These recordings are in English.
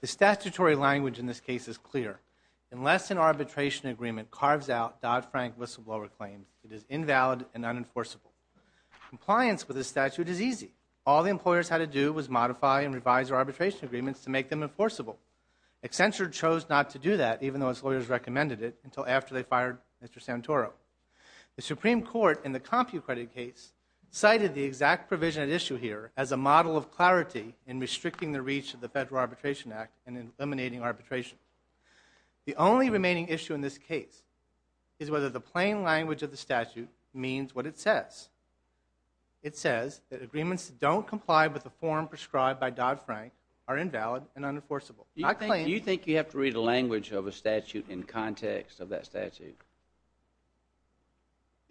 The statutory language in this case is clear. Unless an arbitration agreement carves out Dodd-Frank whistleblower claims, it is invalid and unenforceable. Compliance with this statute is easy. All the employers had to do was modify and revise their arbitration agreements to make them enforceable. Accenture chose not to do that, even though its lawyers recommended it, until after they fired Mr. Santoro. The Supreme Court in the CompuCredit case cited the exact provision at issue here as a model of clarity in restricting the reach of the Federal Arbitration Act and in eliminating arbitration. The only remaining issue in this case is whether the plain language of the statute means what it says. It says that agreements that don't comply with the form prescribed by Dodd-Frank are invalid and unenforceable. Do you think you have to read the language of a statute in context of that statute?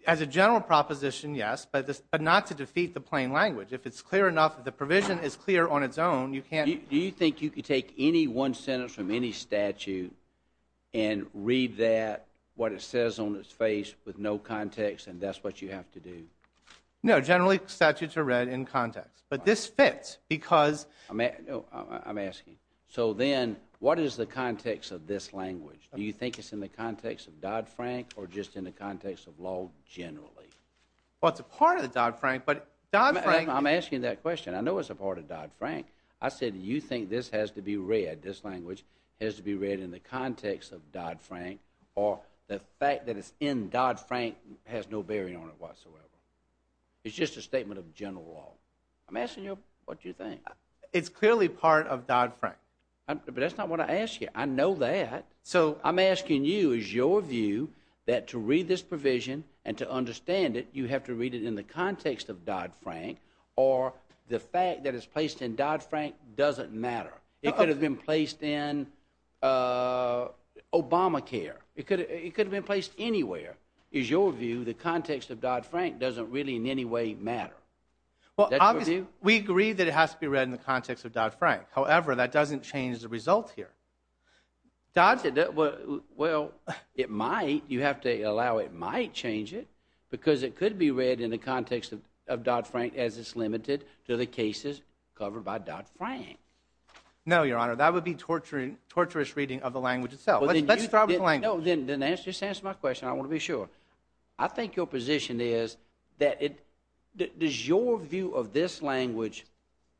As a general proposition, yes, but not to defeat the plain language. If it's clear enough, if the provision is clear on its own, you can't Do you think you can take any one sentence from any statute and read that, what it says on its face, with no context, and that's what you have to do? No, generally, statutes are read in context, but this fits because I'm asking, so then, what is the context of this language? Do you think it's in the context of Dodd-Frank, or just in the context of law generally? Well, it's a part of the Dodd-Frank, but Dodd-Frank I'm asking that question. I know it's a part of Dodd-Frank. I said, do you think this has to be read, this language, has to be read in the context of Dodd-Frank, or the fact that it's in Dodd-Frank has no bearing on it whatsoever? It's just a statement of general law. I'm asking you, what do you think? It's clearly part of Dodd-Frank. But that's not what I asked you. I know that. I'm asking you, is your view that to read this provision, and to understand it, you have to read it in the context of Dodd-Frank, or the fact that it's placed in Dodd-Frank doesn't matter? It could have been placed in Obamacare. It could have been placed anywhere. Is your view the context of Dodd-Frank doesn't really in any way matter? Well, obviously, we agree that it has to be read in the context of Dodd-Frank. However, that doesn't change the result here. Dodd-Frank, well, it might. You have to allow it might change it, because it could be read in the context of Dodd-Frank, as it's limited to the cases covered by Dodd-Frank. No, Your Honor. That would be torturous reading of the language itself. Let's start with the language. No, then just answer my question. I want to be sure. I think your position is that it — does your view of this language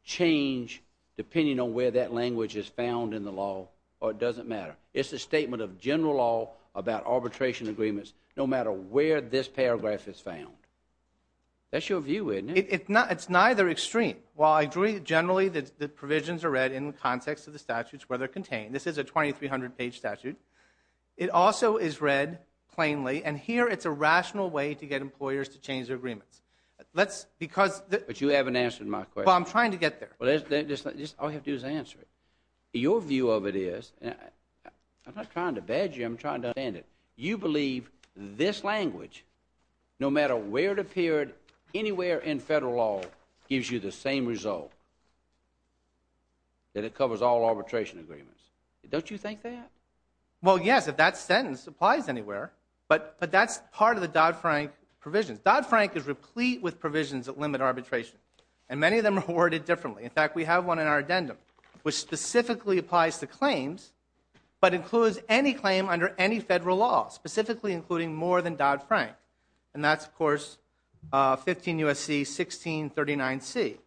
change depending on where that language is found in the law, or it doesn't matter? It's a statement of general law about arbitration agreements, no matter where this paragraph is found. That's your view, isn't it? It's neither extreme. While I agree, generally, that provisions are read in the context of the statutes where they're contained. This is a 2,300-page statute. It also is read plainly, and here it's a rational way to get employers to change their agreements. But you haven't answered my question. Well, I'm trying to get there. Well, all you have to do is answer it. Your view of it is — I'm not trying to badger you. I'm trying to understand it. You believe this language, no matter where it appeared, anywhere in federal law gives you the same result, that it covers all arbitration agreements. Don't you think that? Well, yes, if that sentence applies anywhere. But that's part of the Dodd-Frank provisions. Dodd-Frank is replete with provisions that limit arbitration, and many of them are worded differently. In fact, we have one in our addendum, which specifically applies to claims, but includes any claim under any federal law, specifically including more than Dodd-Frank. And that's, of course, 15 U.S.C. 1639C.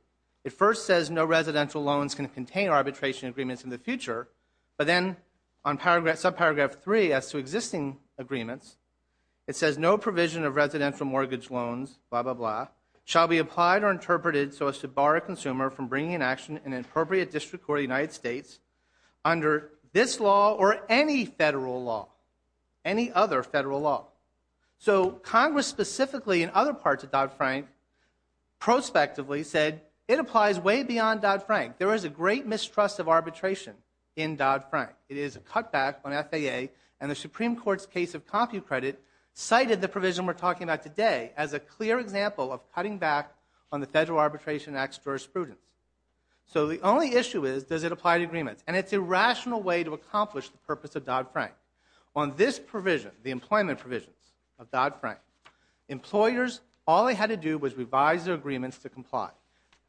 It first says no residential loans can contain arbitration agreements in the future, but then on subparagraph 3 as to existing agreements, it says no provision of residential mortgage loans, blah, blah, blah, shall be applied or interpreted so as to bar a consumer from bringing an action in an appropriate district or United States under this law or any federal law, any other federal law. So Congress specifically in other parts of Dodd-Frank prospectively said it applies way beyond Dodd-Frank. There is a great mistrust of arbitration in Dodd-Frank. It is a cutback on FAA, and the Supreme Court's case of CompuCredit cited the provision we're talking about today as a clear example of cutting back on the Federal Arbitration Act's jurisprudence. So the only issue is, does it apply to agreements? And it's a rational way to accomplish the employment provisions of Dodd-Frank. Employers, all they had to do was revise their agreements to comply,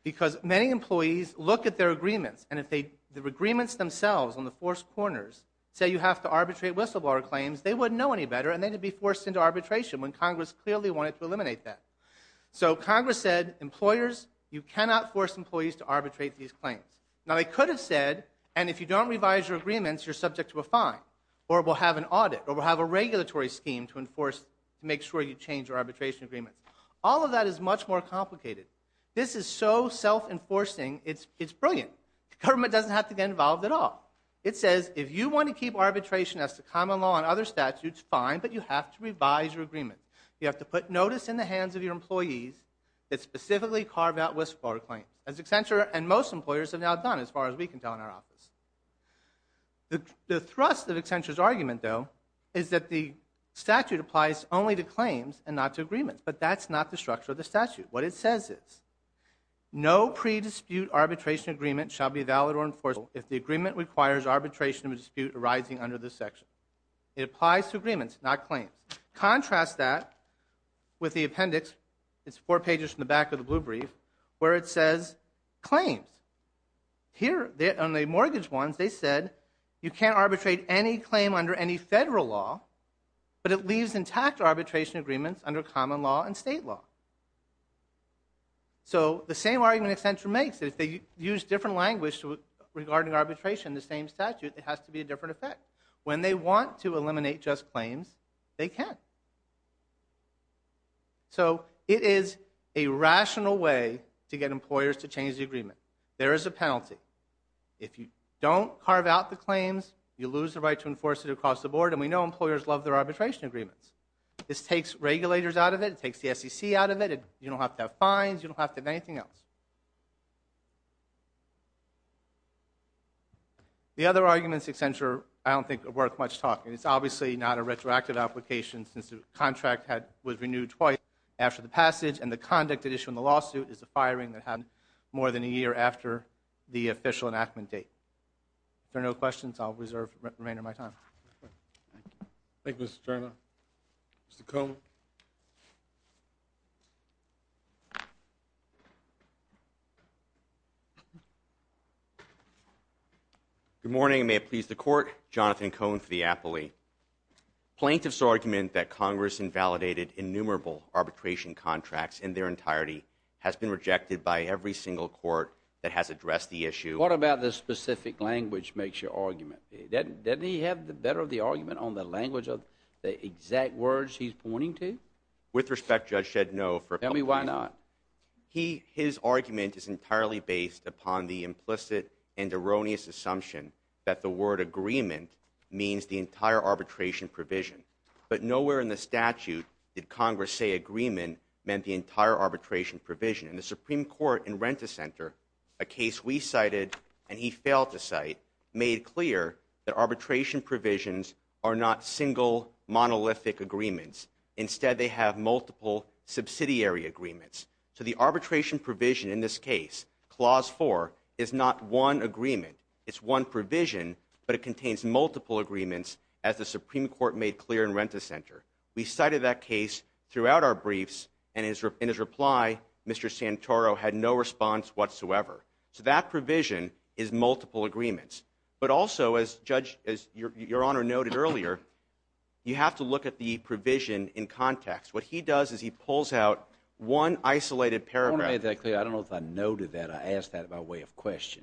because many employees look at their agreements, and if the agreements themselves on the forced corners say you have to arbitrate whistleblower claims, they wouldn't know any better and they'd be forced into arbitration when Congress clearly wanted to eliminate that. So Congress said, employers, you cannot force employees to arbitrate these claims. Now, they could have said, and if you don't revise your agreements, you're subject to a fine, or we'll have an audit, or we'll have a regulatory scheme to enforce, to make sure you change your arbitration agreements. All of that is much more complicated. This is so self-enforcing, it's brilliant. Government doesn't have to get involved at all. It says, if you want to keep arbitration as the common law and other statutes, fine, but you have to revise your agreement. You have to put notice in the hands of your employees that specifically carve out whistleblower claims, as Accenture and most employers have now done, as far as we can tell in our office. The thrust of Accenture's argument, though, is that the statute applies only to claims and not to agreements, but that's not the structure of the statute. What it says is, no pre-dispute arbitration agreement shall be valid or enforceable if the agreement requires arbitration of a dispute arising under this section. It applies to agreements, not claims. Contrast that with the appendix, it's four pages from the back of the blue brief, where it says claims. Here, on the mortgage ones, they said, you can't arbitrate any claim under any federal law, but it leaves intact arbitration agreements under common law and state law. So the same argument Accenture makes, if they use different language regarding arbitration, the same statute, it has to be a different effect. When they want to eliminate just claims, they can. So it is a rational way to get employers to change the agreement. There is a penalty. If you don't carve out the claims, you lose the right to enforce it across the board, and we know employers love their arbitration agreements. This takes regulators out of it, it takes the SEC out of it, you don't have to have fines, you don't have to have anything else. The other arguments Accenture, I don't think are worth much talk. It's obviously not a retroactive application, since the contract was renewed twice after the passage, and the conduct at issue in the lawsuit is a firing that happened more than a year after the official enactment date. If there are no questions, I'll reserve the remainder of my time. Thank you, Mr. Cerna. Mr. Komen. Good morning, may it please the court, Jonathan Komen for the Appley. Plaintiff's argument that Congress invalidated innumerable arbitration contracts in their entirety has been rejected by every single court that has addressed the issue. What about the specific language makes your argument? Doesn't he have better of the argument on the language of the exact words he's pointing to? With respect, Judge, I said no. Tell me why not. His argument is entirely based upon the implicit and erroneous assumption that the word agreement means the entire arbitration provision. But nowhere in the statute did Congress say agreement meant the entire arbitration provision. In the Supreme Court in Rent-A-Center, a case we cited and he failed to cite, made clear that arbitration provisions are not single, monolithic agreements. Instead, they have multiple subsidiary agreements. So the arbitration provision in this case, Clause 4, is not one agreement. It's one provision, but it contains multiple agreements as the Supreme Court made clear in Rent-A-Center. We cited that case throughout our briefs, and in his reply, Mr. Santoro had no response whatsoever. So that provision is multiple agreements. But also, as Judge, as Your Honor noted earlier, you have to look at the provision in context. What he does is he pulls out one isolated paragraph. I want to make that clear. I don't know if I noted that. I asked that by way of question.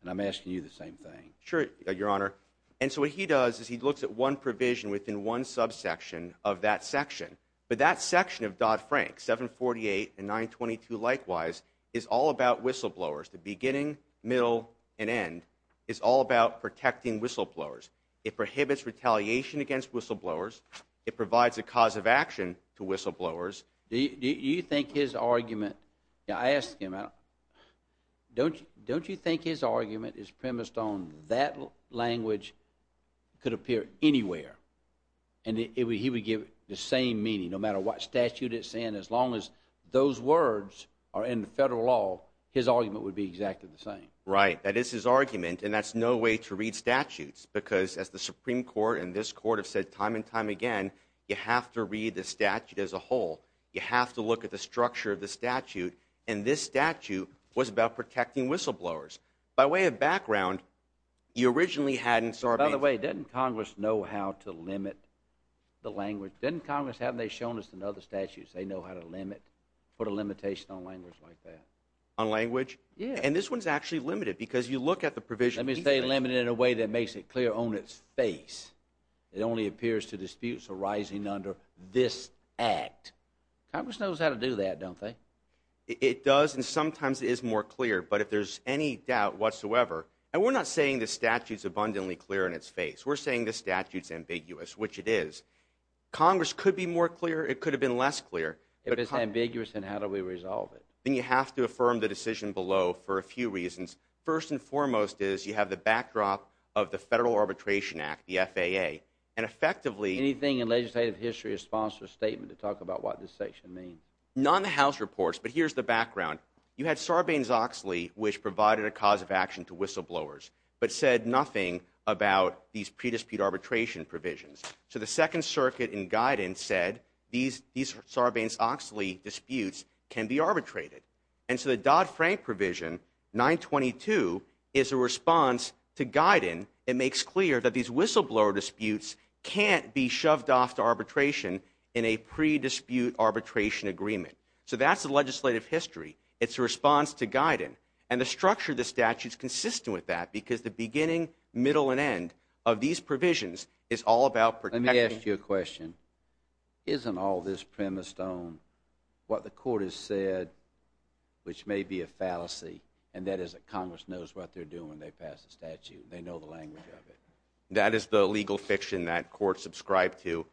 And I'm asking you the same thing. Sure, Your Honor. And so what he does is he looks at one provision within one subsection of that section. But that section of Dodd-Frank, 748 and 922 likewise, is all about whistleblowers. The beginning, middle, and end is all about protecting whistleblowers. It prohibits retaliation against whistleblowers. It provides a cause of action to whistleblowers. Do you think his argument, I asked him, don't you think his argument is premised on that language could appear anywhere? And he would give the same meaning, no matter what statute it's in, as long as those words are in federal law, his argument would be exactly the same. Right. That is his argument. And that's no way to read statutes. Because as the Supreme Court and this Court have said time and time again, you have to read the statute as a whole. You have to look at the structure of the statute. And this statute was about protecting whistleblowers. By way of background, you originally had in Sarbanes- By the way, didn't Congress know how to limit the language? Didn't Congress, haven't they shown us in other statutes they know how to limit, put a limitation on language like that? On language? Yeah. And this one's actually limited, because you look at the provision- Let me say limited in a way that makes it clear on its face. It only appears to disputes arising under this act. Congress knows how to do that, don't they? It does, and sometimes it is more clear. But if there's any doubt whatsoever, and we're not saying the statute's abundantly clear in its face. We're saying the statute's ambiguous, which it is. Congress could be more clear. It could have been less clear. If it's ambiguous, then how do we resolve it? Then you have to affirm the decision below for a few reasons. First and foremost is you have the backdrop of the Federal Arbitration Act, the FAA. And effectively- Anything in legislative history responds to a statement to talk about what this section means. Not in the House reports, but here's the background. You had Sarbanes-Oxley, which provided a cause of action to whistleblowers, but said nothing about these pre-dispute arbitration provisions. So the Second Circuit in Guyton said these Sarbanes-Oxley disputes can be arbitrated. And so the Dodd-Frank provision, 922, is a response to Guyton. It makes clear that these whistleblower disputes can't be shoved off to arbitration in a pre-dispute arbitration agreement. So that's the legislative history. It's a response to Guyton. And the structure of the statute's consistent with that, because the beginning, middle, and end of these provisions is all about protecting- Let me ask you a question. Isn't all this premised on what the court has said, which may be a fallacy, and that is that Congress knows what they're doing when they pass the statute? They know the language of it. That is the legal fiction that courts subscribe to.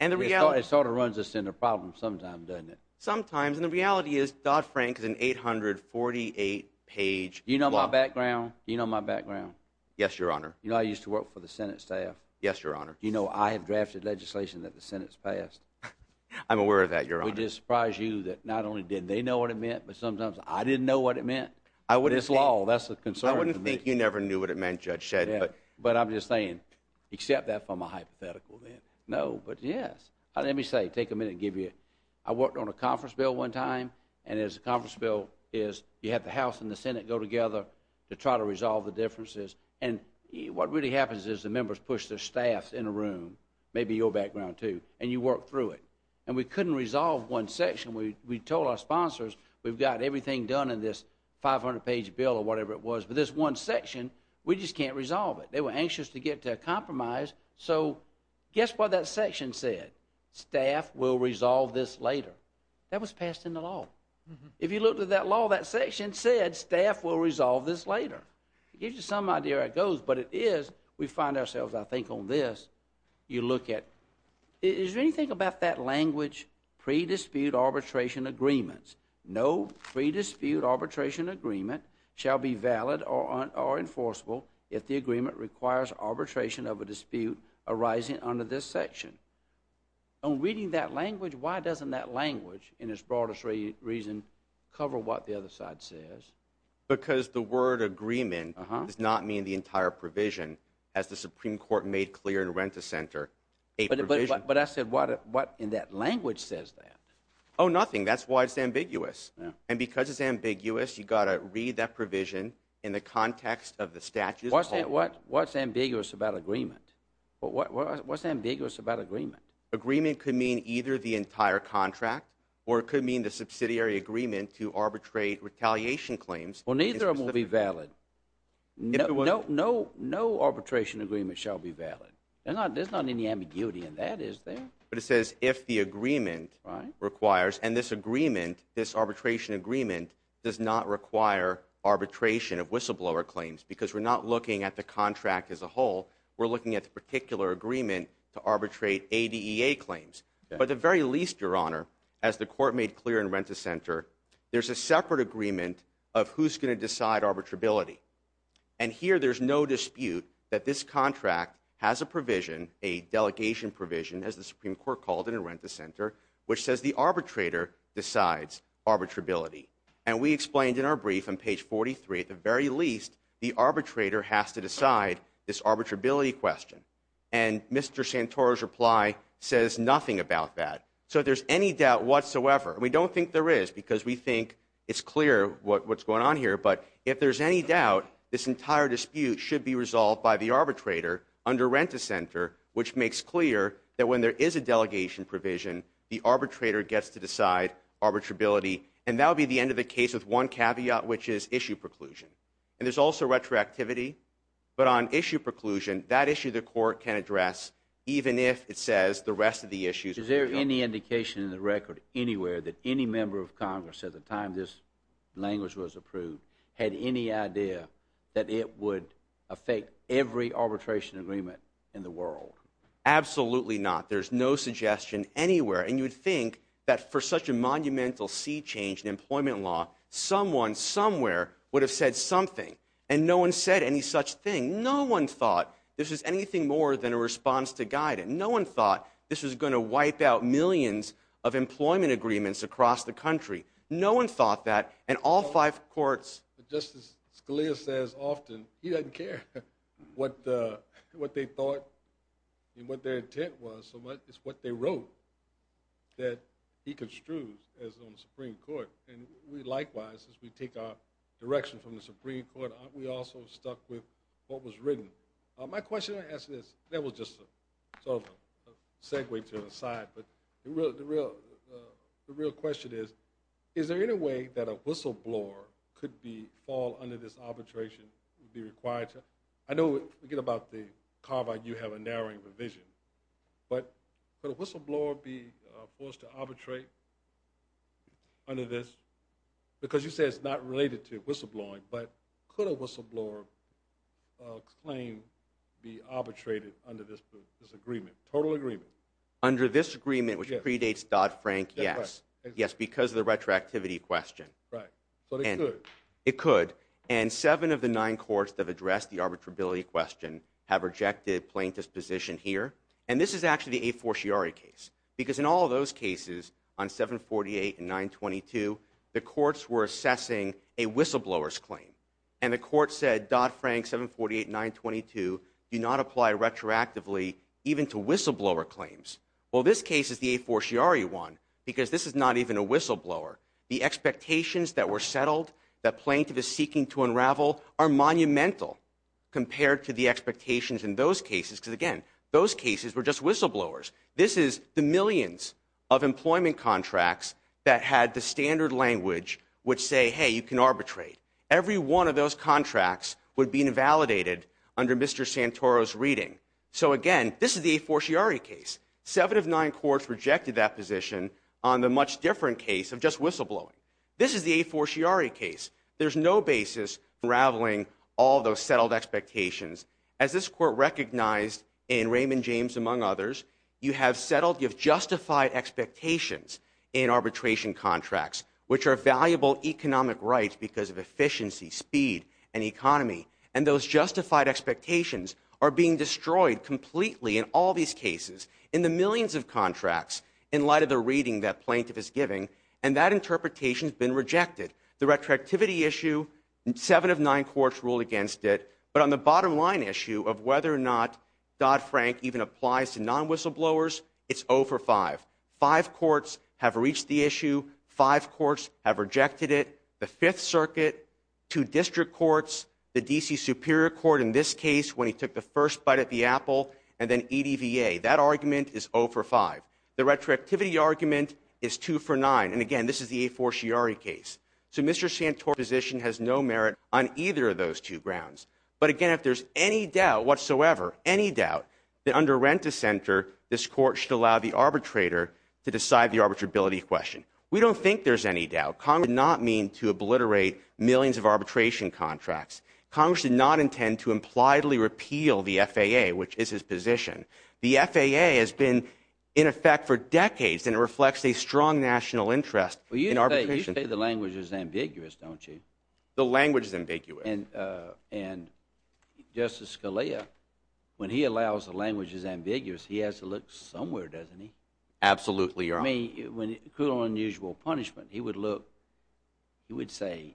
And the reality- It sort of runs us in a problem sometimes, doesn't it? Sometimes. And the reality is Dodd-Frank is an 848-page block. You know my background? You know my background? Yes, Your Honor. You know I used to work for the Senate staff? Yes, Your Honor. Do you know I have drafted legislation that the Senate's passed? I'm aware of that, Your Honor. Would it surprise you that not only did they know what it meant, but sometimes I didn't know what it meant? I wouldn't- This law, that's the concern for me. I wouldn't think you never knew what it meant, Judge Shedd, but- But I'm just saying, accept that from a hypothetical, then. No, but yes. Let me say, take a minute and give you- I worked on a conference bill one time, and it was a conference bill is you have the House and the Senate go together to try to resolve the differences. And what really happens is the members push their staffs in a room, maybe your background too, and you work through it. And we couldn't resolve one section. We told our sponsors, we've got everything done in this 500-page bill or whatever it was, but this one section, we just can't resolve it. They were anxious to get to a compromise, so guess what that section said? Staff will resolve this later. That was passed into law. If you looked at that law, that we find ourselves, I think, on this, you look at- is there anything about that language pre-dispute arbitration agreements? No pre-dispute arbitration agreement shall be valid or enforceable if the agreement requires arbitration of a dispute arising under this section. On reading that language, why doesn't that language, in its broadest reason, cover what the other side says? Because the word agreement does not mean the entire provision, as the Supreme Court made clear in the Renta Center. But I said, what in that language says that? Oh, nothing. That's why it's ambiguous. And because it's ambiguous, you've got to read that provision in the context of the statutes. What's ambiguous about agreement? What's ambiguous about agreement? Agreement could mean either the entire contract, or it could mean the subsidiary agreement to arbitrate retaliation claims. Well, neither of them will be valid. No arbitration agreement shall be valid. There's not any ambiguity in that, is there? But it says, if the agreement requires- and this agreement, this arbitration agreement, does not require arbitration of whistleblower claims, because we're not looking at the contract as a whole. We're looking at the particular agreement to arbitrate ADEA claims. But at the very least, Your Honor, as the Court made clear in Renta Center, there's a separate agreement of who's going to decide arbitrability. And here, there's no dispute that this contract has a provision, a delegation provision, as the Supreme Court called it in Renta Center, which says the arbitrator decides arbitrability. And we explained in our brief on page 43, at the very least, the arbitrator has to decide this arbitrability question. And Mr. Santoro's reply says nothing about that. So if there's any doubt whatsoever- and we don't think there is, because we think it's clear what's going on here- but if there's any doubt, this entire dispute should be resolved by the arbitrator under Renta Center, which makes clear that when there is a delegation provision, the arbitrator gets to decide arbitrability. And that would be the end of the case with one caveat, which is issue preclusion. And there's also retroactivity. But on issue preclusion, that issue the Court can address, even if it says the rest of the issues- Is there any indication in the record anywhere that any member of Congress at the time this language was approved had any idea that it would affect every arbitration agreement in the world? Absolutely not. There's no suggestion anywhere. And you would think that for such a monumental sea change in employment law, someone somewhere would have said something. And no one said any such thing. No one thought this was anything more than a response to guidance. No one thought this was going to wipe out millions of employment agreements across the country. No one thought that. And all five courts- Just as Scalia says often, he doesn't care what they thought and what their intent was, it's what they wrote that he construes as on the Supreme Court. And we likewise, as we take our direction from the Supreme Court, we also stuck with what was written. My question I ask is- that was just sort of a segue to the side. But the real question is, is there any way that a whistleblower could fall under this arbitration would be required to- I know, again, about the Carvine, you have a narrowing provision. But could a whistleblower be forced to arbitrate under this? Because you say it's not related to whistleblowing, but could a whistleblower claim be arbitrated under this agreement, total agreement? Under this agreement, which predates Dodd-Frank, yes. Yes, because of the retroactivity question. Right. So it could. It could. And seven of the nine courts that have addressed the arbitrability question have rejected plaintiff's position here. And this is actually the a forciari case, because in all of those cases on 748 and 922, the courts were assessing a whistleblower's claim. And the court said Dodd-Frank 748 and 922 do not apply retroactively even to whistleblower claims. Well, this case is the a forciari one, because this is not even a whistleblower. The expectations that were settled, that plaintiff is seeking to unravel, are monumental compared to the expectations in those cases. Because again, those cases were just whistleblowers. This is the millions of employment contracts that had the standard language, which say, hey, you can arbitrate. Every one of those contracts would be invalidated under Mr. Santoro's reading. So again, this is the a forciari case. Seven of nine courts rejected that position on the much different case of just whistleblowing. This is the a forciari case. There's no basis unraveling all those settled expectations. As this court recognized in Raymond James, among others, you have settled, you have justified expectations in arbitration contracts, which are valuable economic rights because of efficiency, speed, and economy. And those justified expectations are being destroyed completely in all these cases, in the millions of contracts, in light of the reading that plaintiff is giving. And that interpretation has been rejected. The retroactivity issue, seven of nine courts ruled against it. But on the bottom line issue of whether or not Dodd-Frank even applies to non-whistleblowers, it's O for five. Five courts have reached the issue. Five courts have rejected it. The Fifth Circuit, two district courts, the D.C. Superior Court in this case, when he took the first bite at the apple, and then EDVA, that argument is O for five. The retroactivity argument is two for nine. And again, this is the a forciari case. So Mr. Santoro's position has no merit on either of those two grounds. But again, if there's any doubt whatsoever, any doubt, that under Renta Center, this court should allow the arbitrator to decide the arbitrability question. We don't think there's any doubt. Congress did not mean to obliterate millions of arbitration contracts. Congress did not intend to impliedly repeal the FAA, which is his position. The FAA has been in effect for decades, and it reflects a strong national interest in arbitration. Well, you say the language is ambiguous, don't you? The language is ambiguous. And Justice Scalia, when he allows the language is ambiguous, he has to look somewhere, doesn't he? Absolutely, Your Honor. I mean, according to unusual punishment, he would look, he would say,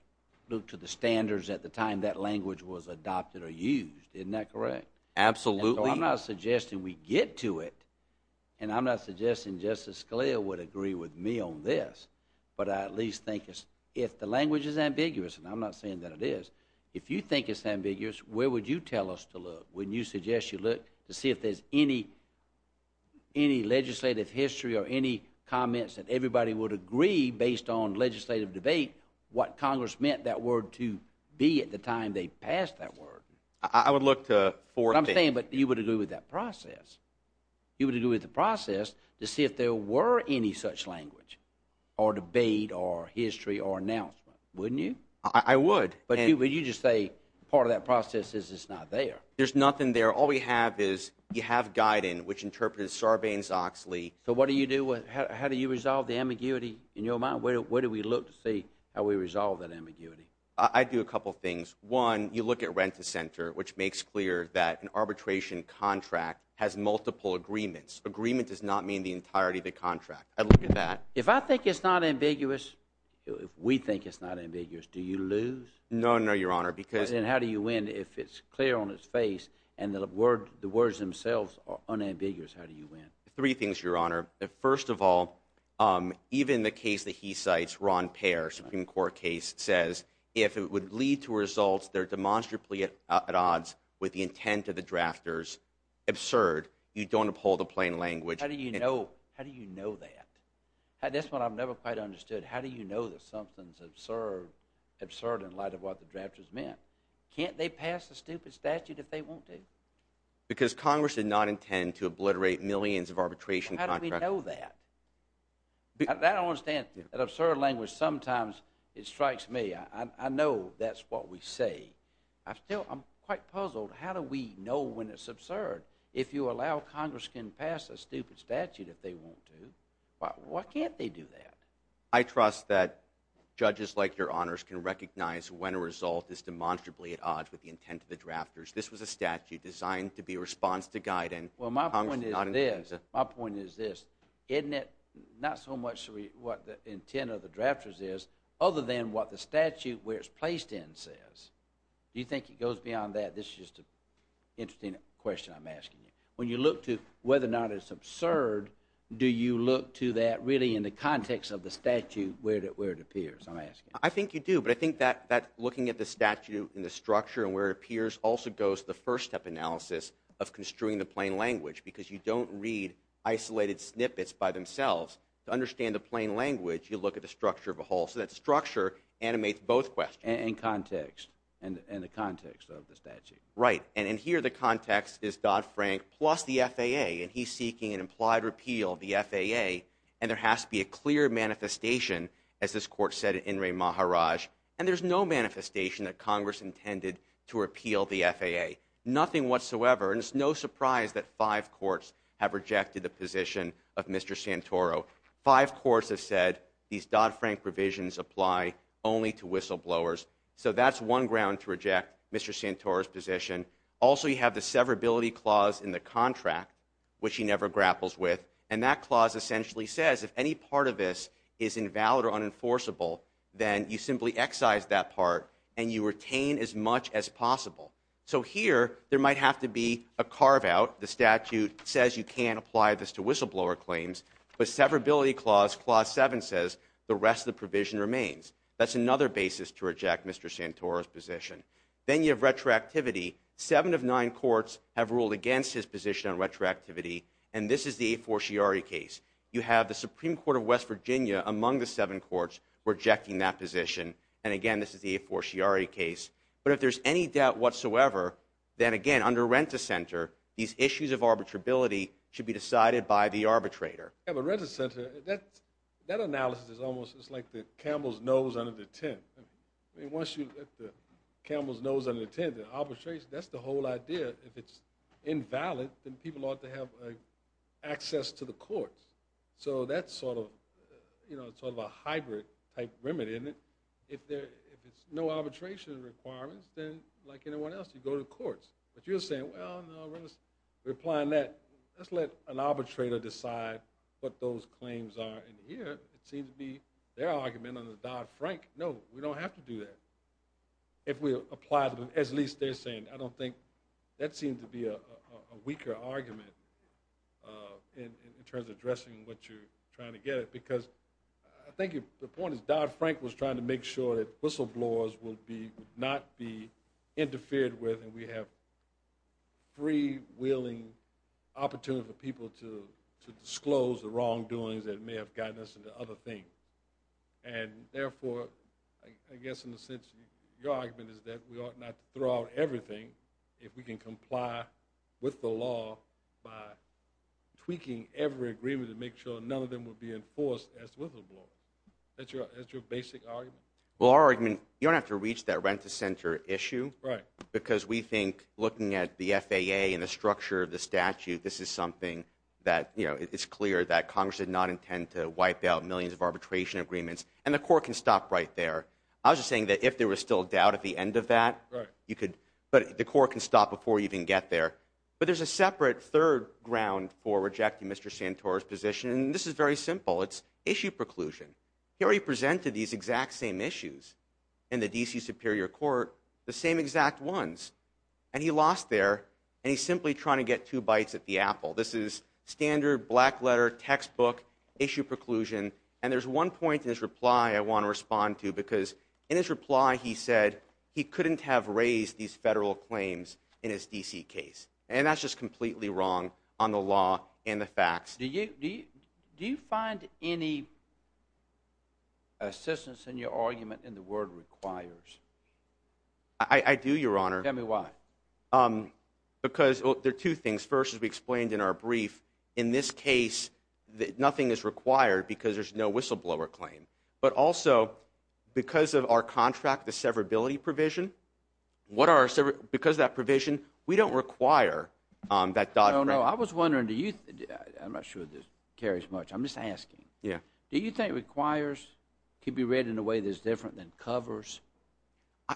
look to the standards at the time that language was adopted or used. Isn't that correct? Absolutely. So I'm not suggesting we get to it. And I'm not suggesting Justice Scalia would agree with me on this. But I at least think if the language is ambiguous, and I'm not saying that it is, if you think it's ambiguous, where would you tell us to look when you suggest you look to see if there's any any legislative history or any comments that everybody would agree based on legislative debate what Congress meant that word to be at the time they passed that word? I would look to four things. I'm saying, but you would agree with that process. You would agree with the process to see if there were any such language or debate or history or announcement, wouldn't you? I would. But you just say part of that process is it's not there. There's nothing there. All we have is you have guidance, which interprets Sarbanes-Oxley. So what do you do with, how do you resolve the how we resolve that ambiguity? I do a couple of things. One, you look at rent-to-center, which makes clear that an arbitration contract has multiple agreements. Agreement does not mean the entirety of the contract. I look at that. If I think it's not ambiguous, if we think it's not ambiguous, do you lose? No, no, Your Honor. Because then how do you win if it's clear on its face and the word the words themselves are unambiguous? How do you win? Three things, Your Honor. First of all, even the case that he cites, Ron Payer, Supreme Court case, says if it would lead to results, they're demonstrably at odds with the intent of the drafters. Absurd. You don't uphold the plain language. How do you know that? That's what I've never quite understood. How do you know that something's absurd in light of what the drafters meant? Can't they pass a stupid statute if they want to? Because Congress did not intend to obliterate millions of arbitration contracts. How do we know that? That I don't understand. That absurd language, sometimes it strikes me. I know that's what we say. I'm quite puzzled. How do we know when it's absurd? If you allow Congress can pass a stupid statute if they want to, why can't they do that? I trust that judges like Your Honors can recognize when a result is demonstrably at odds with the intent of the drafters. This was a statute designed to be a response to Guyton. My point is this. Isn't it not so much what the intent of the drafters is other than what the statute where it's placed in says? Do you think it goes beyond that? This is just an interesting question I'm asking you. When you look to whether or not it's absurd, do you look to that really in the context of the statute where it appears? I think you do, but I think that looking at the statute and the structure and where it appears also goes the first step analysis of construing the plain language because you don't read isolated snippets by themselves. To understand the plain language, you look at the structure of a whole. So that structure animates both questions. And context and the context of the statute. Right, and in here the context is Dodd-Frank plus the FAA and he's seeking an implied repeal of the FAA and there has to be a clear manifestation as this court said in Enri and there's no manifestation that Congress intended to repeal the FAA. Nothing whatsoever and it's no surprise that five courts have rejected the position of Mr. Santoro. Five courts have said these Dodd-Frank provisions apply only to whistleblowers. So that's one ground to reject Mr. Santoro's position. Also you have the severability clause in the contract which he never grapples with and that clause essentially says if any part of this is invalid or unenforceable then you simply excise that part and you retain as much as possible. So here there might have to be a carve-out. The statute says you can't apply this to whistleblower claims but severability clause clause 7 says the rest of the provision remains. That's another basis to reject Mr. Santoro's position. Then you have retroactivity. Seven of nine courts have ruled against his position on retroactivity and this is the A4 Sciari case. You have the Supreme Court of West Virginia among the seven courts rejecting that position and again this is the A4 Sciari case but if there's any doubt whatsoever then again under Rent-A-Center these issues of arbitrability should be decided by the arbitrator. Yeah but Rent-A-Center that analysis is almost it's like the camel's nose under the tent. I mean once you get the camel's nose under the tent and arbitrate that's the whole idea. If it's invalid then people ought to have access to the courts. So that's sort you know sort of a hybrid type remedy isn't it? If there if it's no arbitration requirements then like anyone else you go to courts but you're saying well no we're applying that. Let's let an arbitrator decide what those claims are and here it seems to be their argument under Dodd-Frank. No we don't have to do that. If we apply them as least they're saying I don't think that seems to be a weaker argument in terms of addressing what you're trying to get at because I think the point is Dodd-Frank was trying to make sure that whistleblowers would be would not be interfered with and we have free willing opportunity for people to to disclose the wrongdoings that may have gotten us into other things and therefore I guess in the sense your argument is that we can comply with the law by tweaking every agreement to make sure none of them would be enforced as whistleblowers. That's your that's your basic argument? Well our argument you don't have to reach that rent-a-center issue right because we think looking at the FAA and the structure of the statute this is something that you know it's clear that Congress did not intend to wipe out millions of arbitration agreements and the court can stop right there. I was just saying that if there was still a doubt at the end of that right you could but the court can stop before you can get there but there's a separate third ground for rejecting Mr. Santora's position and this is very simple it's issue preclusion. He already presented these exact same issues in the D.C. Superior Court the same exact ones and he lost there and he's simply trying to get two bites at the apple. This is standard black letter textbook issue preclusion and there's one point in his reply I want to he couldn't have raised these federal claims in his D.C. case and that's just completely wrong on the law and the facts. Do you do you find any assistance in your argument in the word requires? I do your honor. Tell me why. Because there are two things first as we explained in our brief in this case that nothing is required because there's no whistleblower claim but also because of our contract the severability provision what are because that provision we don't require that. No no I was wondering do you I'm not sure this carries much I'm just asking. Yeah. Do you think requires could be read in a way that's different than covers?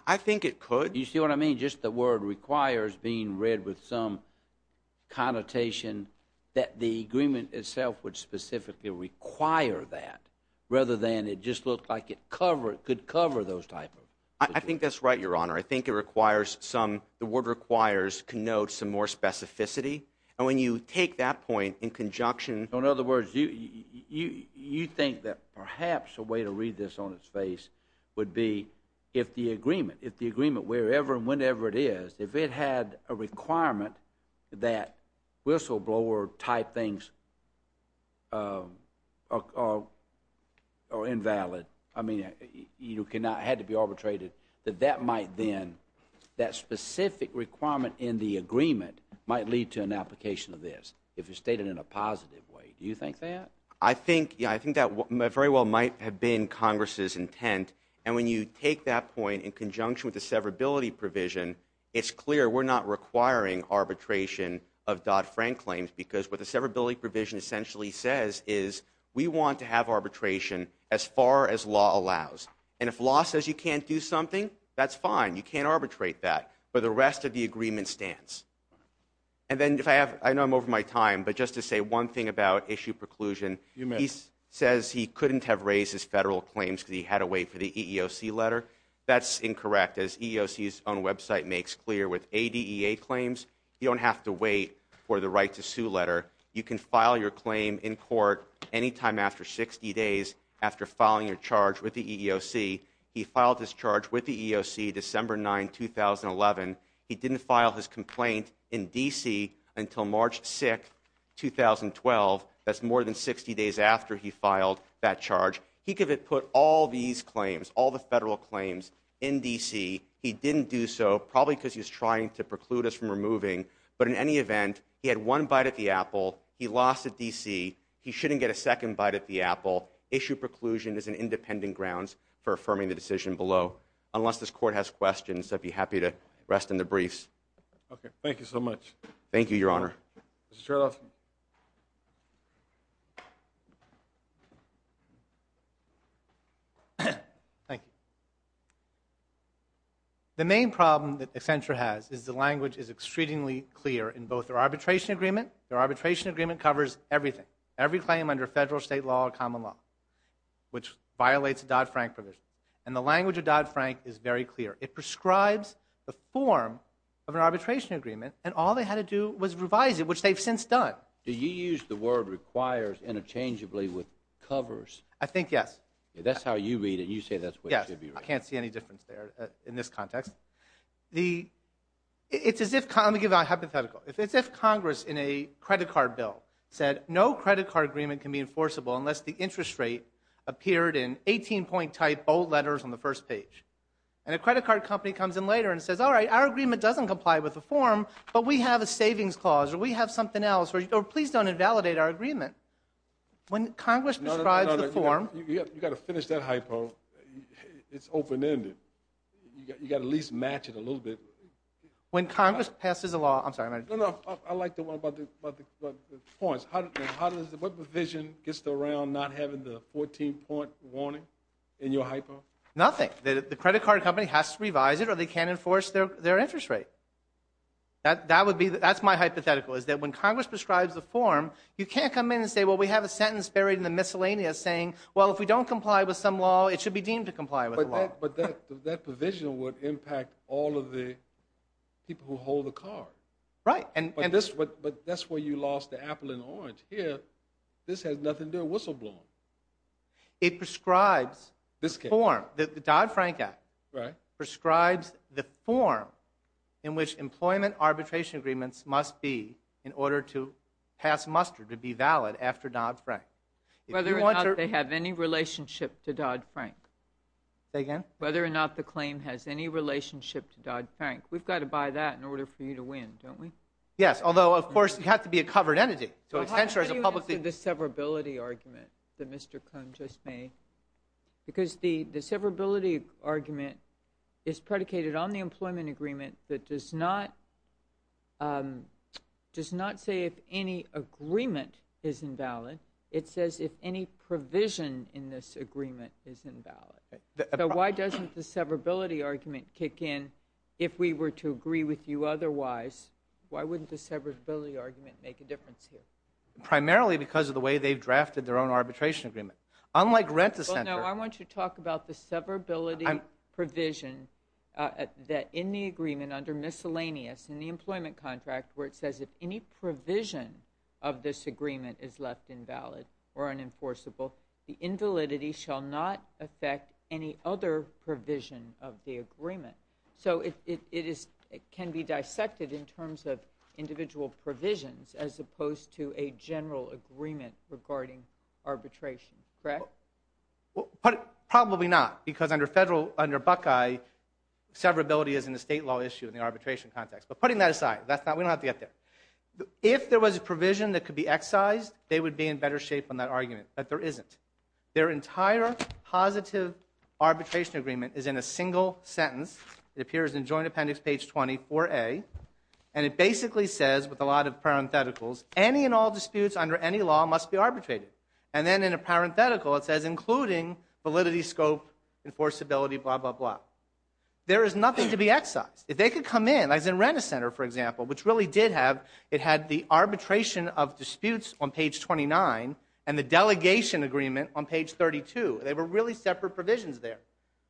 I think it could. You see what I mean just the word requires being read with some connotation that the agreement itself would specifically require that rather than it just looked like it cover it could cover those type of. I think that's right your honor I think it requires some the word requires connotes some more specificity and when you take that point in conjunction. In other words you you you think that perhaps a way to read this on its face would be if the agreement if the agreement wherever and it is if it had a requirement that whistleblower type things are or invalid I mean you cannot had to be arbitrated that that might then that specific requirement in the agreement might lead to an application of this if it's stated in a positive way. Do you think that? I think yeah I think that very well might have been congress's intent and when you take that point in conjunction with the severability provision it's clear we're not requiring arbitration of Dodd-Frank claims because what the severability provision essentially says is we want to have arbitration as far as law allows and if law says you can't do something that's fine you can't arbitrate that but the rest of the agreement stands and then if I have I know I'm over my time but just to say one thing about issue preclusion he says he couldn't have raised his federal claims because he had to wait for the EEOC letter that's incorrect as EEOC's own website makes clear with ADEA claims you don't have to wait for the right to sue letter you can file your claim in court anytime after 60 days after filing your charge with the EEOC he filed his charge with the EEOC December 9, 2011 he didn't file his complaint in DC until March 6, 2012 that's more than 60 days after he filed that charge he put all these claims all the federal claims in DC he didn't do so probably because he's trying to preclude us from removing but in any event he had one bite at the apple he lost at DC he shouldn't get a second bite at the apple issue preclusion is an independent grounds for affirming the decision below unless this court has questions I'd be happy to rest in the briefs okay thank you so much thank you your honor Mr. Chertoff thank you the main problem that Accenture has is the language is extremely clear in both their arbitration agreement their arbitration agreement covers everything every claim under federal state law common law which violates the Dodd-Frank provision and the language of Dodd-Frank is very all they had to do was revise it which they've since done do you use the word requires interchangeably with covers I think yes that's how you read it you say that's what I can't see any difference there in this context the it's as if let me give a hypothetical if it's if congress in a credit card bill said no credit card agreement can be enforceable unless the interest rate appeared in 18 point type bold letters on the first page and a credit card company comes in and says all right our agreement doesn't comply with the form but we have a savings clause or we have something else or please don't invalidate our agreement when congress prescribes the form you got to finish that hypo it's open-ended you got to at least match it a little bit when congress passes a law I'm sorry no no I like the one about the points how does what provision gets around not having the 14 point warning in your hypo nothing the credit card company has to revise it or they can't enforce their their interest rate that that would be that's my hypothetical is that when congress prescribes the form you can't come in and say well we have a sentence buried in the miscellaneous saying well if we don't comply with some law it should be deemed to comply with the law but that that provision would impact all of the people who hold the card right and and this but but that's where you lost the apple and orange here this has nothing to do with whistleblowing it prescribes this form the dodd-frank act right prescribes the form in which employment arbitration agreements must be in order to pass muster to be valid after dodd-frank whether or not they have any relationship to dodd-frank again whether or not the claim has any relationship to dodd-frank we've got to buy that in order for you to win don't we yes although of course you have to be a covered entity so essentially the severability argument that mr cone just made because the the severability argument is predicated on the employment agreement that does not um does not say if any agreement is invalid it says if any provision in this agreement is invalid so why doesn't the severability argument kick in if we were to agree with you otherwise why wouldn't the severability argument make a difference here primarily because of the way they've drafted their own arbitration agreement unlike rent the center i want to talk about the severability provision uh that in the agreement under miscellaneous in the employment contract where it says if any provision of this agreement is left invalid or unenforceable the terms of individual provisions as opposed to a general agreement regarding arbitration correct probably not because under federal under buckeye severability is in the state law issue in the arbitration context but putting that aside that's not we don't have to get there if there was a provision that could be excised they would be in better shape on that argument but there isn't their entire positive arbitration agreement is in a single sentence it appears in joint appendix page 24a and it basically says with a lot of parentheticals any and all disputes under any law must be arbitrated and then in a parenthetical it says including validity scope enforceability blah blah blah there is nothing to be excised if they could come in as in rent a center for example which really did have it had the arbitration of disputes on page 29 and the delegation agreement on page 32 they were really separate provisions there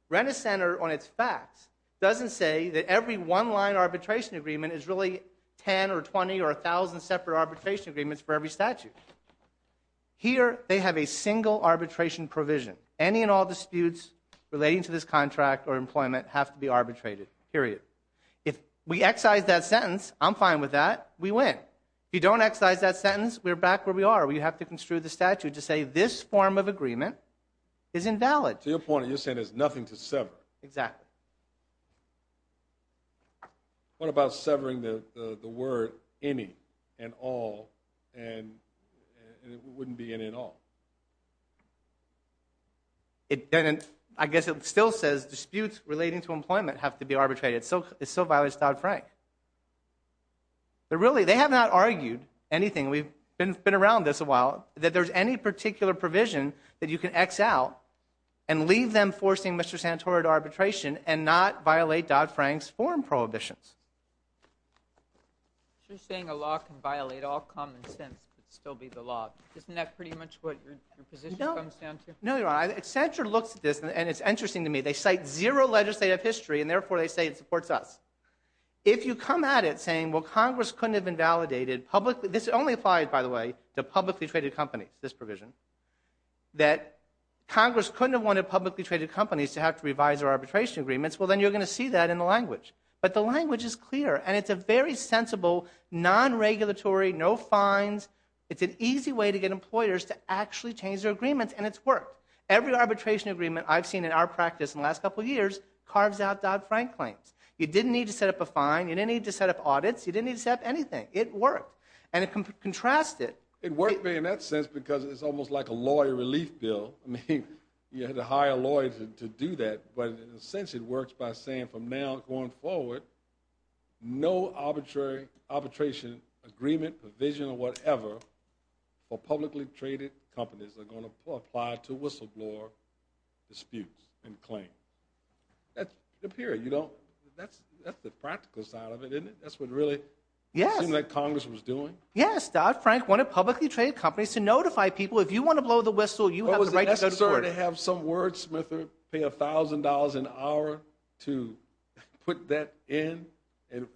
rent a center on its facts doesn't say that every one line arbitration agreement is really 10 or 20 or a thousand separate arbitration agreements for every statute here they have a single arbitration provision any and all disputes relating to this contract or employment have to be arbitrated period if we excise that sentence i'm fine with that we win if you don't excise that sentence we're back where we are we have to construe the statute to say this form of agreement is invalid to your point you're saying nothing to sever exactly what about severing the the word any and all and and it wouldn't be in at all it didn't i guess it still says disputes relating to employment have to be arbitrated so it's so violence dodd-frank but really they have not argued anything we've been been around this while that there's any particular provision that you can excel and leave them forcing mr santoro to arbitration and not violate dodd-frank's foreign prohibitions you're saying a law can violate all common sense but still be the law isn't that pretty much what your position comes down to no you're right eccentric looks at this and it's interesting to me they cite zero legislative history and therefore they say it supports us if you come at it saying well congress couldn't have invalidated publicly this only applied by the publicly traded companies this provision that congress couldn't have wanted publicly traded companies to have to revise their arbitration agreements well then you're going to see that in the language but the language is clear and it's a very sensible non-regulatory no fines it's an easy way to get employers to actually change their agreements and it's worked every arbitration agreement i've seen in our practice in the last couple years carves out dodd-frank claims you didn't need to set up a fine you didn't need to set up audits you didn't need to set up anything it worked and it can contrast it it worked me in that sense because it's almost like a lawyer relief bill i mean you had to hire lawyers to do that but in a sense it works by saying from now going forward no arbitrary arbitration agreement provision or whatever for publicly traded companies are going to apply to whistleblower disputes and claim that's the period you don't that's that's the practical side of it isn't it that's what really yes that congress was doing yes dodd-frank wanted publicly traded companies to notify people if you want to blow the whistle you have the right to have some wordsmith pay a thousand dollars an hour to put that in and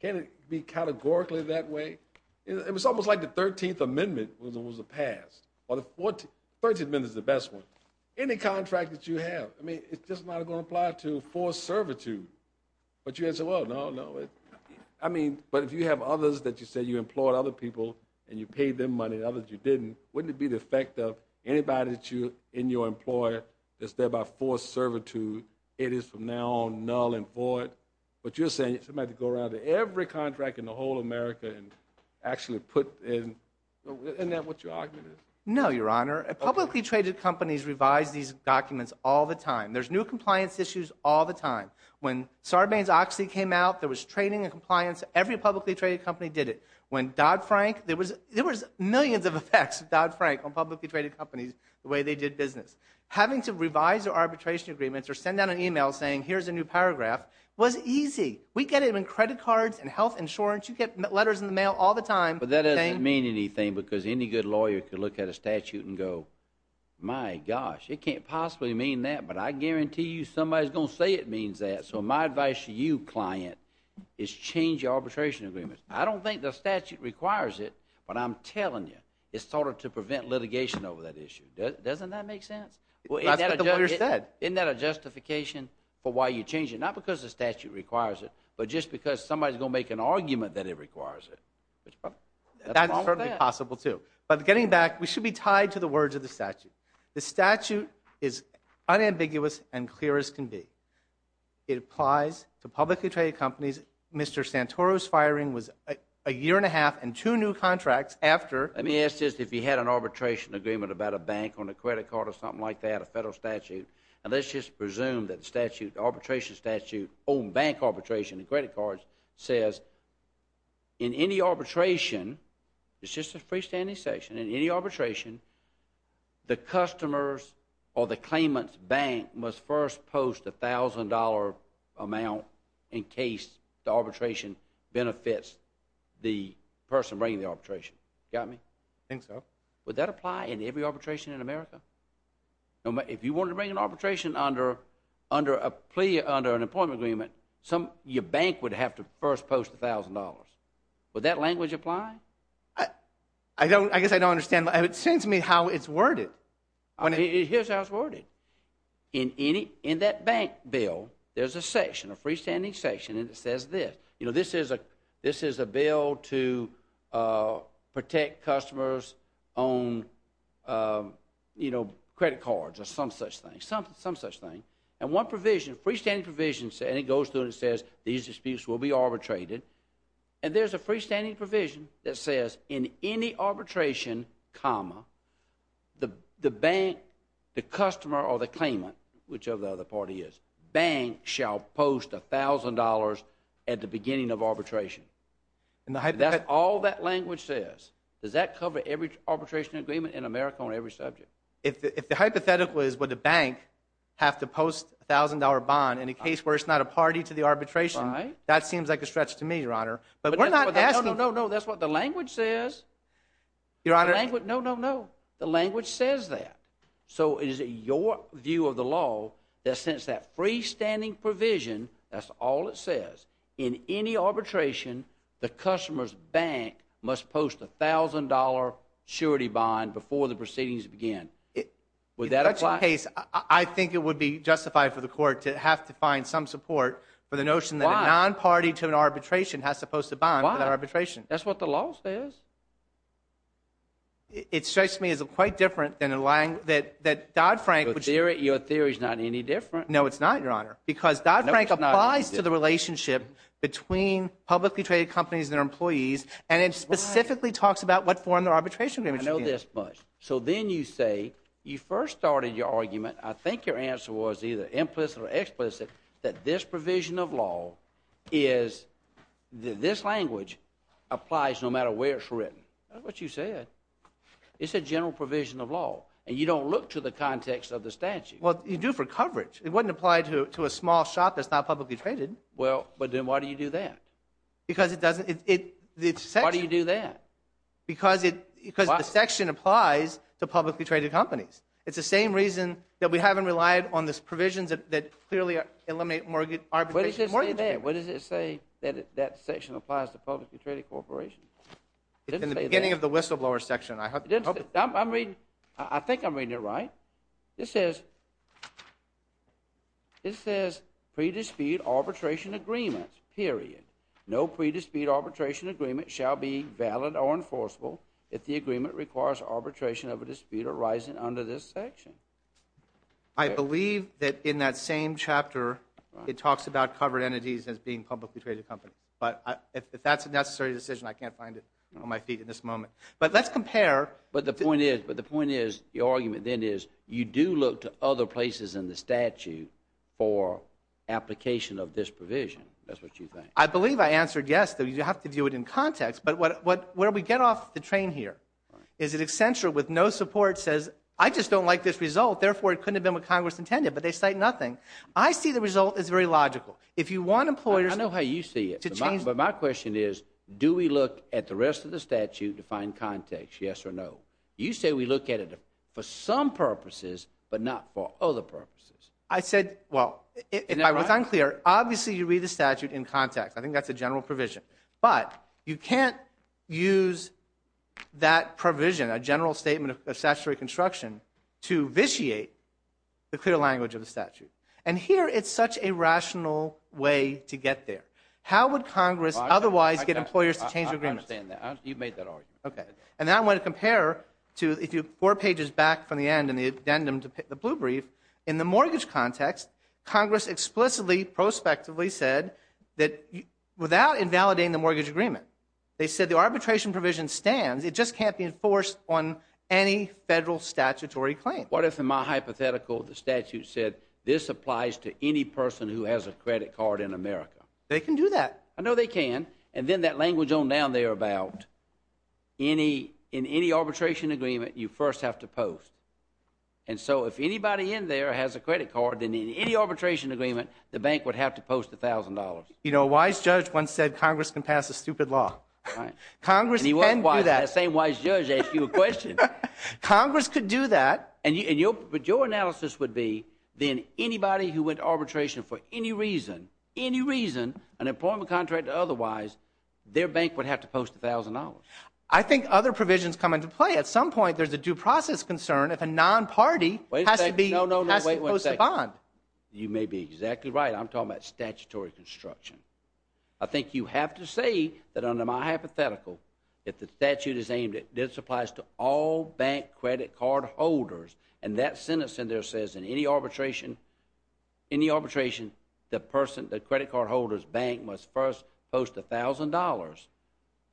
can it be categorically that way it was almost like the 13th amendment was the past or the 13th amendment is the best one any contract that you have i mean it's just not going to apply to forced servitude but you answer well no no i mean but if you have others that you say you employed other people and you paid them money others you didn't wouldn't it be the effect of anybody that you in your employer that's there by forced servitude it is from now on null and void but you're saying somebody to go around to every contract in the whole america and actually put in and that what your argument is no your honor publicly traded companies revise these documents all the time there's new compliance issues all the time when sarbanes-oxley came out there was training and compliance every publicly traded company did it when dodd-frank there was there was millions of effects of dodd-frank on publicly traded companies the way they did business having to revise their arbitration agreements or send out an email saying here's a new paragraph was easy we get it in credit cards and health insurance you get letters in the mail all the time but that doesn't mean anything because any good lawyer could look at a statute and go my gosh it can't possibly mean that but i guarantee you somebody's going to say it means that so my advice to you client is change your arbitration agreements i don't think the statute requires it but i'm telling you it's sort of to prevent litigation over that issue doesn't that make sense well isn't that a justification for why you change it not because the statute requires it but just because somebody's going to make an argument that it requires it that's certainly possible too but getting back we should be tied to the words of the statute the statute is unambiguous and clear as can be it applies to publicly traded companies mr santoro's firing was a year and a half and two new contracts after let me ask just if you had an arbitration agreement about a bank on a credit card or something like that a federal statute and let's just presume that the statute arbitration statute on bank arbitration and credit cards says in any arbitration it's just a freestanding section in any arbitration the customers or the claimant's bank must first post a thousand dollar amount in case the arbitration benefits the person bringing the arbitration got me i think so would that apply in every arbitration in america no if you wanted to bring an arbitration under under a plea under an employment agreement some your bank would have to first post a thousand dollars would that language apply i i don't i guess i don't understand it sends me how it's worded when it hears how it's worded in any in that bank bill there's a section a freestanding section and it says this you know this is a this is a bill to uh protect customers on um you know credit cards or some such thing something some such thing and one provision freestanding provisions and it goes through and says these disputes will be arbitrated and there's a freestanding provision that says in any arbitration comma the the bank the customer or the claimant whichever the other party is bank shall post a beginning of arbitration and that's all that language says does that cover every arbitration agreement in america on every subject if the hypothetical is what the bank have to post a thousand dollar bond in a case where it's not a party to the arbitration that seems like a stretch to me your honor but we're not asking no no that's what the language says your honor no no no the language says that so is it your view of the law that since that freestanding provision that's all it says in any arbitration the customer's bank must post a thousand dollar surety bond before the proceedings begin would that apply case i think it would be justified for the court to have to find some support for the notion that a non-party to an arbitration has to post a bond for that arbitration that's what the law says it strikes me as quite different than a lang that that dodd frank which your theory is not any different no it's not your honor because dodd between publicly traded companies and their employees and it specifically talks about what form their arbitration i know this much so then you say you first started your argument i think your answer was either implicit or explicit that this provision of law is this language applies no matter where it's written that's what you said it's a general provision of law and you don't look to the context of the statute well you do for coverage it wouldn't apply to to a small shop that's not publicly traded well but then why do you do that because it doesn't it why do you do that because it because the section applies to publicly traded companies it's the same reason that we haven't relied on this provisions that clearly eliminate mortgage arbitration what does it say that that section applies to publicly traded corporations in the beginning of the whistleblower section i hope i'm reading i think i'm reading it right this says it says pre-dispute arbitration agreements period no pre-dispute arbitration agreement shall be valid or enforceable if the agreement requires arbitration of a dispute arising under this section i believe that in that same chapter it talks about covered entities as being publicly traded company but if that's a necessary decision i can't find it on my feet in this moment but let's compare but the point is but the point is the argument then is you do look to other places in the statute for application of this provision that's what you think i believe i answered yes though you have to do it in context but what what where we get off the train here is it essential with no support says i just don't like this result therefore it couldn't have been what congress intended but they cite nothing i see the result is very logical if you want employers i know you see it but my question is do we look at the rest of the statute to find context yes or no you say we look at it for some purposes but not for other purposes i said well if i was unclear obviously you read the statute in context i think that's a general provision but you can't use that provision a general statement of statutory construction to vitiate the clear language of the statute and here it's such a rational way to get there how would congress otherwise get employers to change the agreement you've made that argument okay and now i want to compare to if you four pages back from the end and the addendum to the blue brief in the mortgage context congress explicitly prospectively said that without invalidating the mortgage agreement they said the arbitration provision stands it just can't be enforced on any federal statutory claim what if in my hypothetical the statute said this applies to any person who has a credit card in america they can do that i know they can and then that language on down there about any in any arbitration agreement you first have to post and so if anybody in there has a credit card then in any arbitration agreement the bank would have to post a thousand dollars you know a wise judge once said congress can pass a stupid law congress he was wise that same wise judge ask you a question congress could do that and you and your but your analysis would be then anybody who went arbitration for any reason any reason an employment contract otherwise their bank would have to post a thousand dollars i think other provisions come into play at some point there's a due process concern if a non-party has to be no no no wait one second bond you may be exactly right i'm talking about statutory construction i think you have to say that under my hypothetical if the statute is aimed at this applies to all bank credit card holders and that sentence in there says in any arbitration any arbitration the person the credit card holders bank must first post a thousand dollars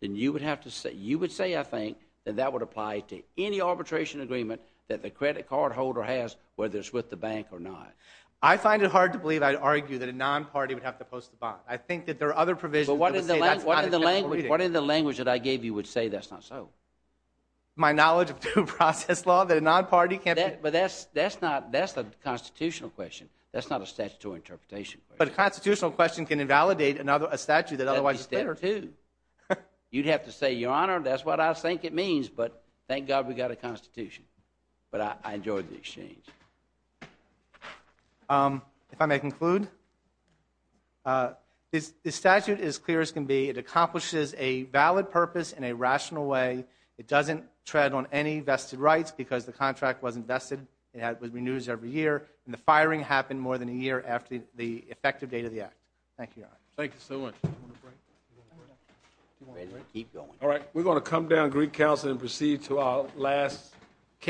then you would have to say you would say i think that that would apply to any arbitration agreement that the credit card holder has whether it's with the bank or not i find it hard to believe i'd argue that a non-party would have to post the bond i think there are other provisions but what is the language what is the language that i gave you would say that's not so my knowledge of due process law that a non-party can't but that's that's not that's the constitutional question that's not a statutory interpretation but a constitutional question can invalidate another a statute that otherwise is there too you'd have to say your honor that's what i think it means but thank god we got a constitution but i enjoyed the statute as clear as can be it accomplishes a valid purpose in a rational way it doesn't tread on any vested rights because the contract wasn't vested it had renews every year and the firing happened more than a year after the effective date of the act thank you thank you so much all right we're going to come down greek council and proceed to our last case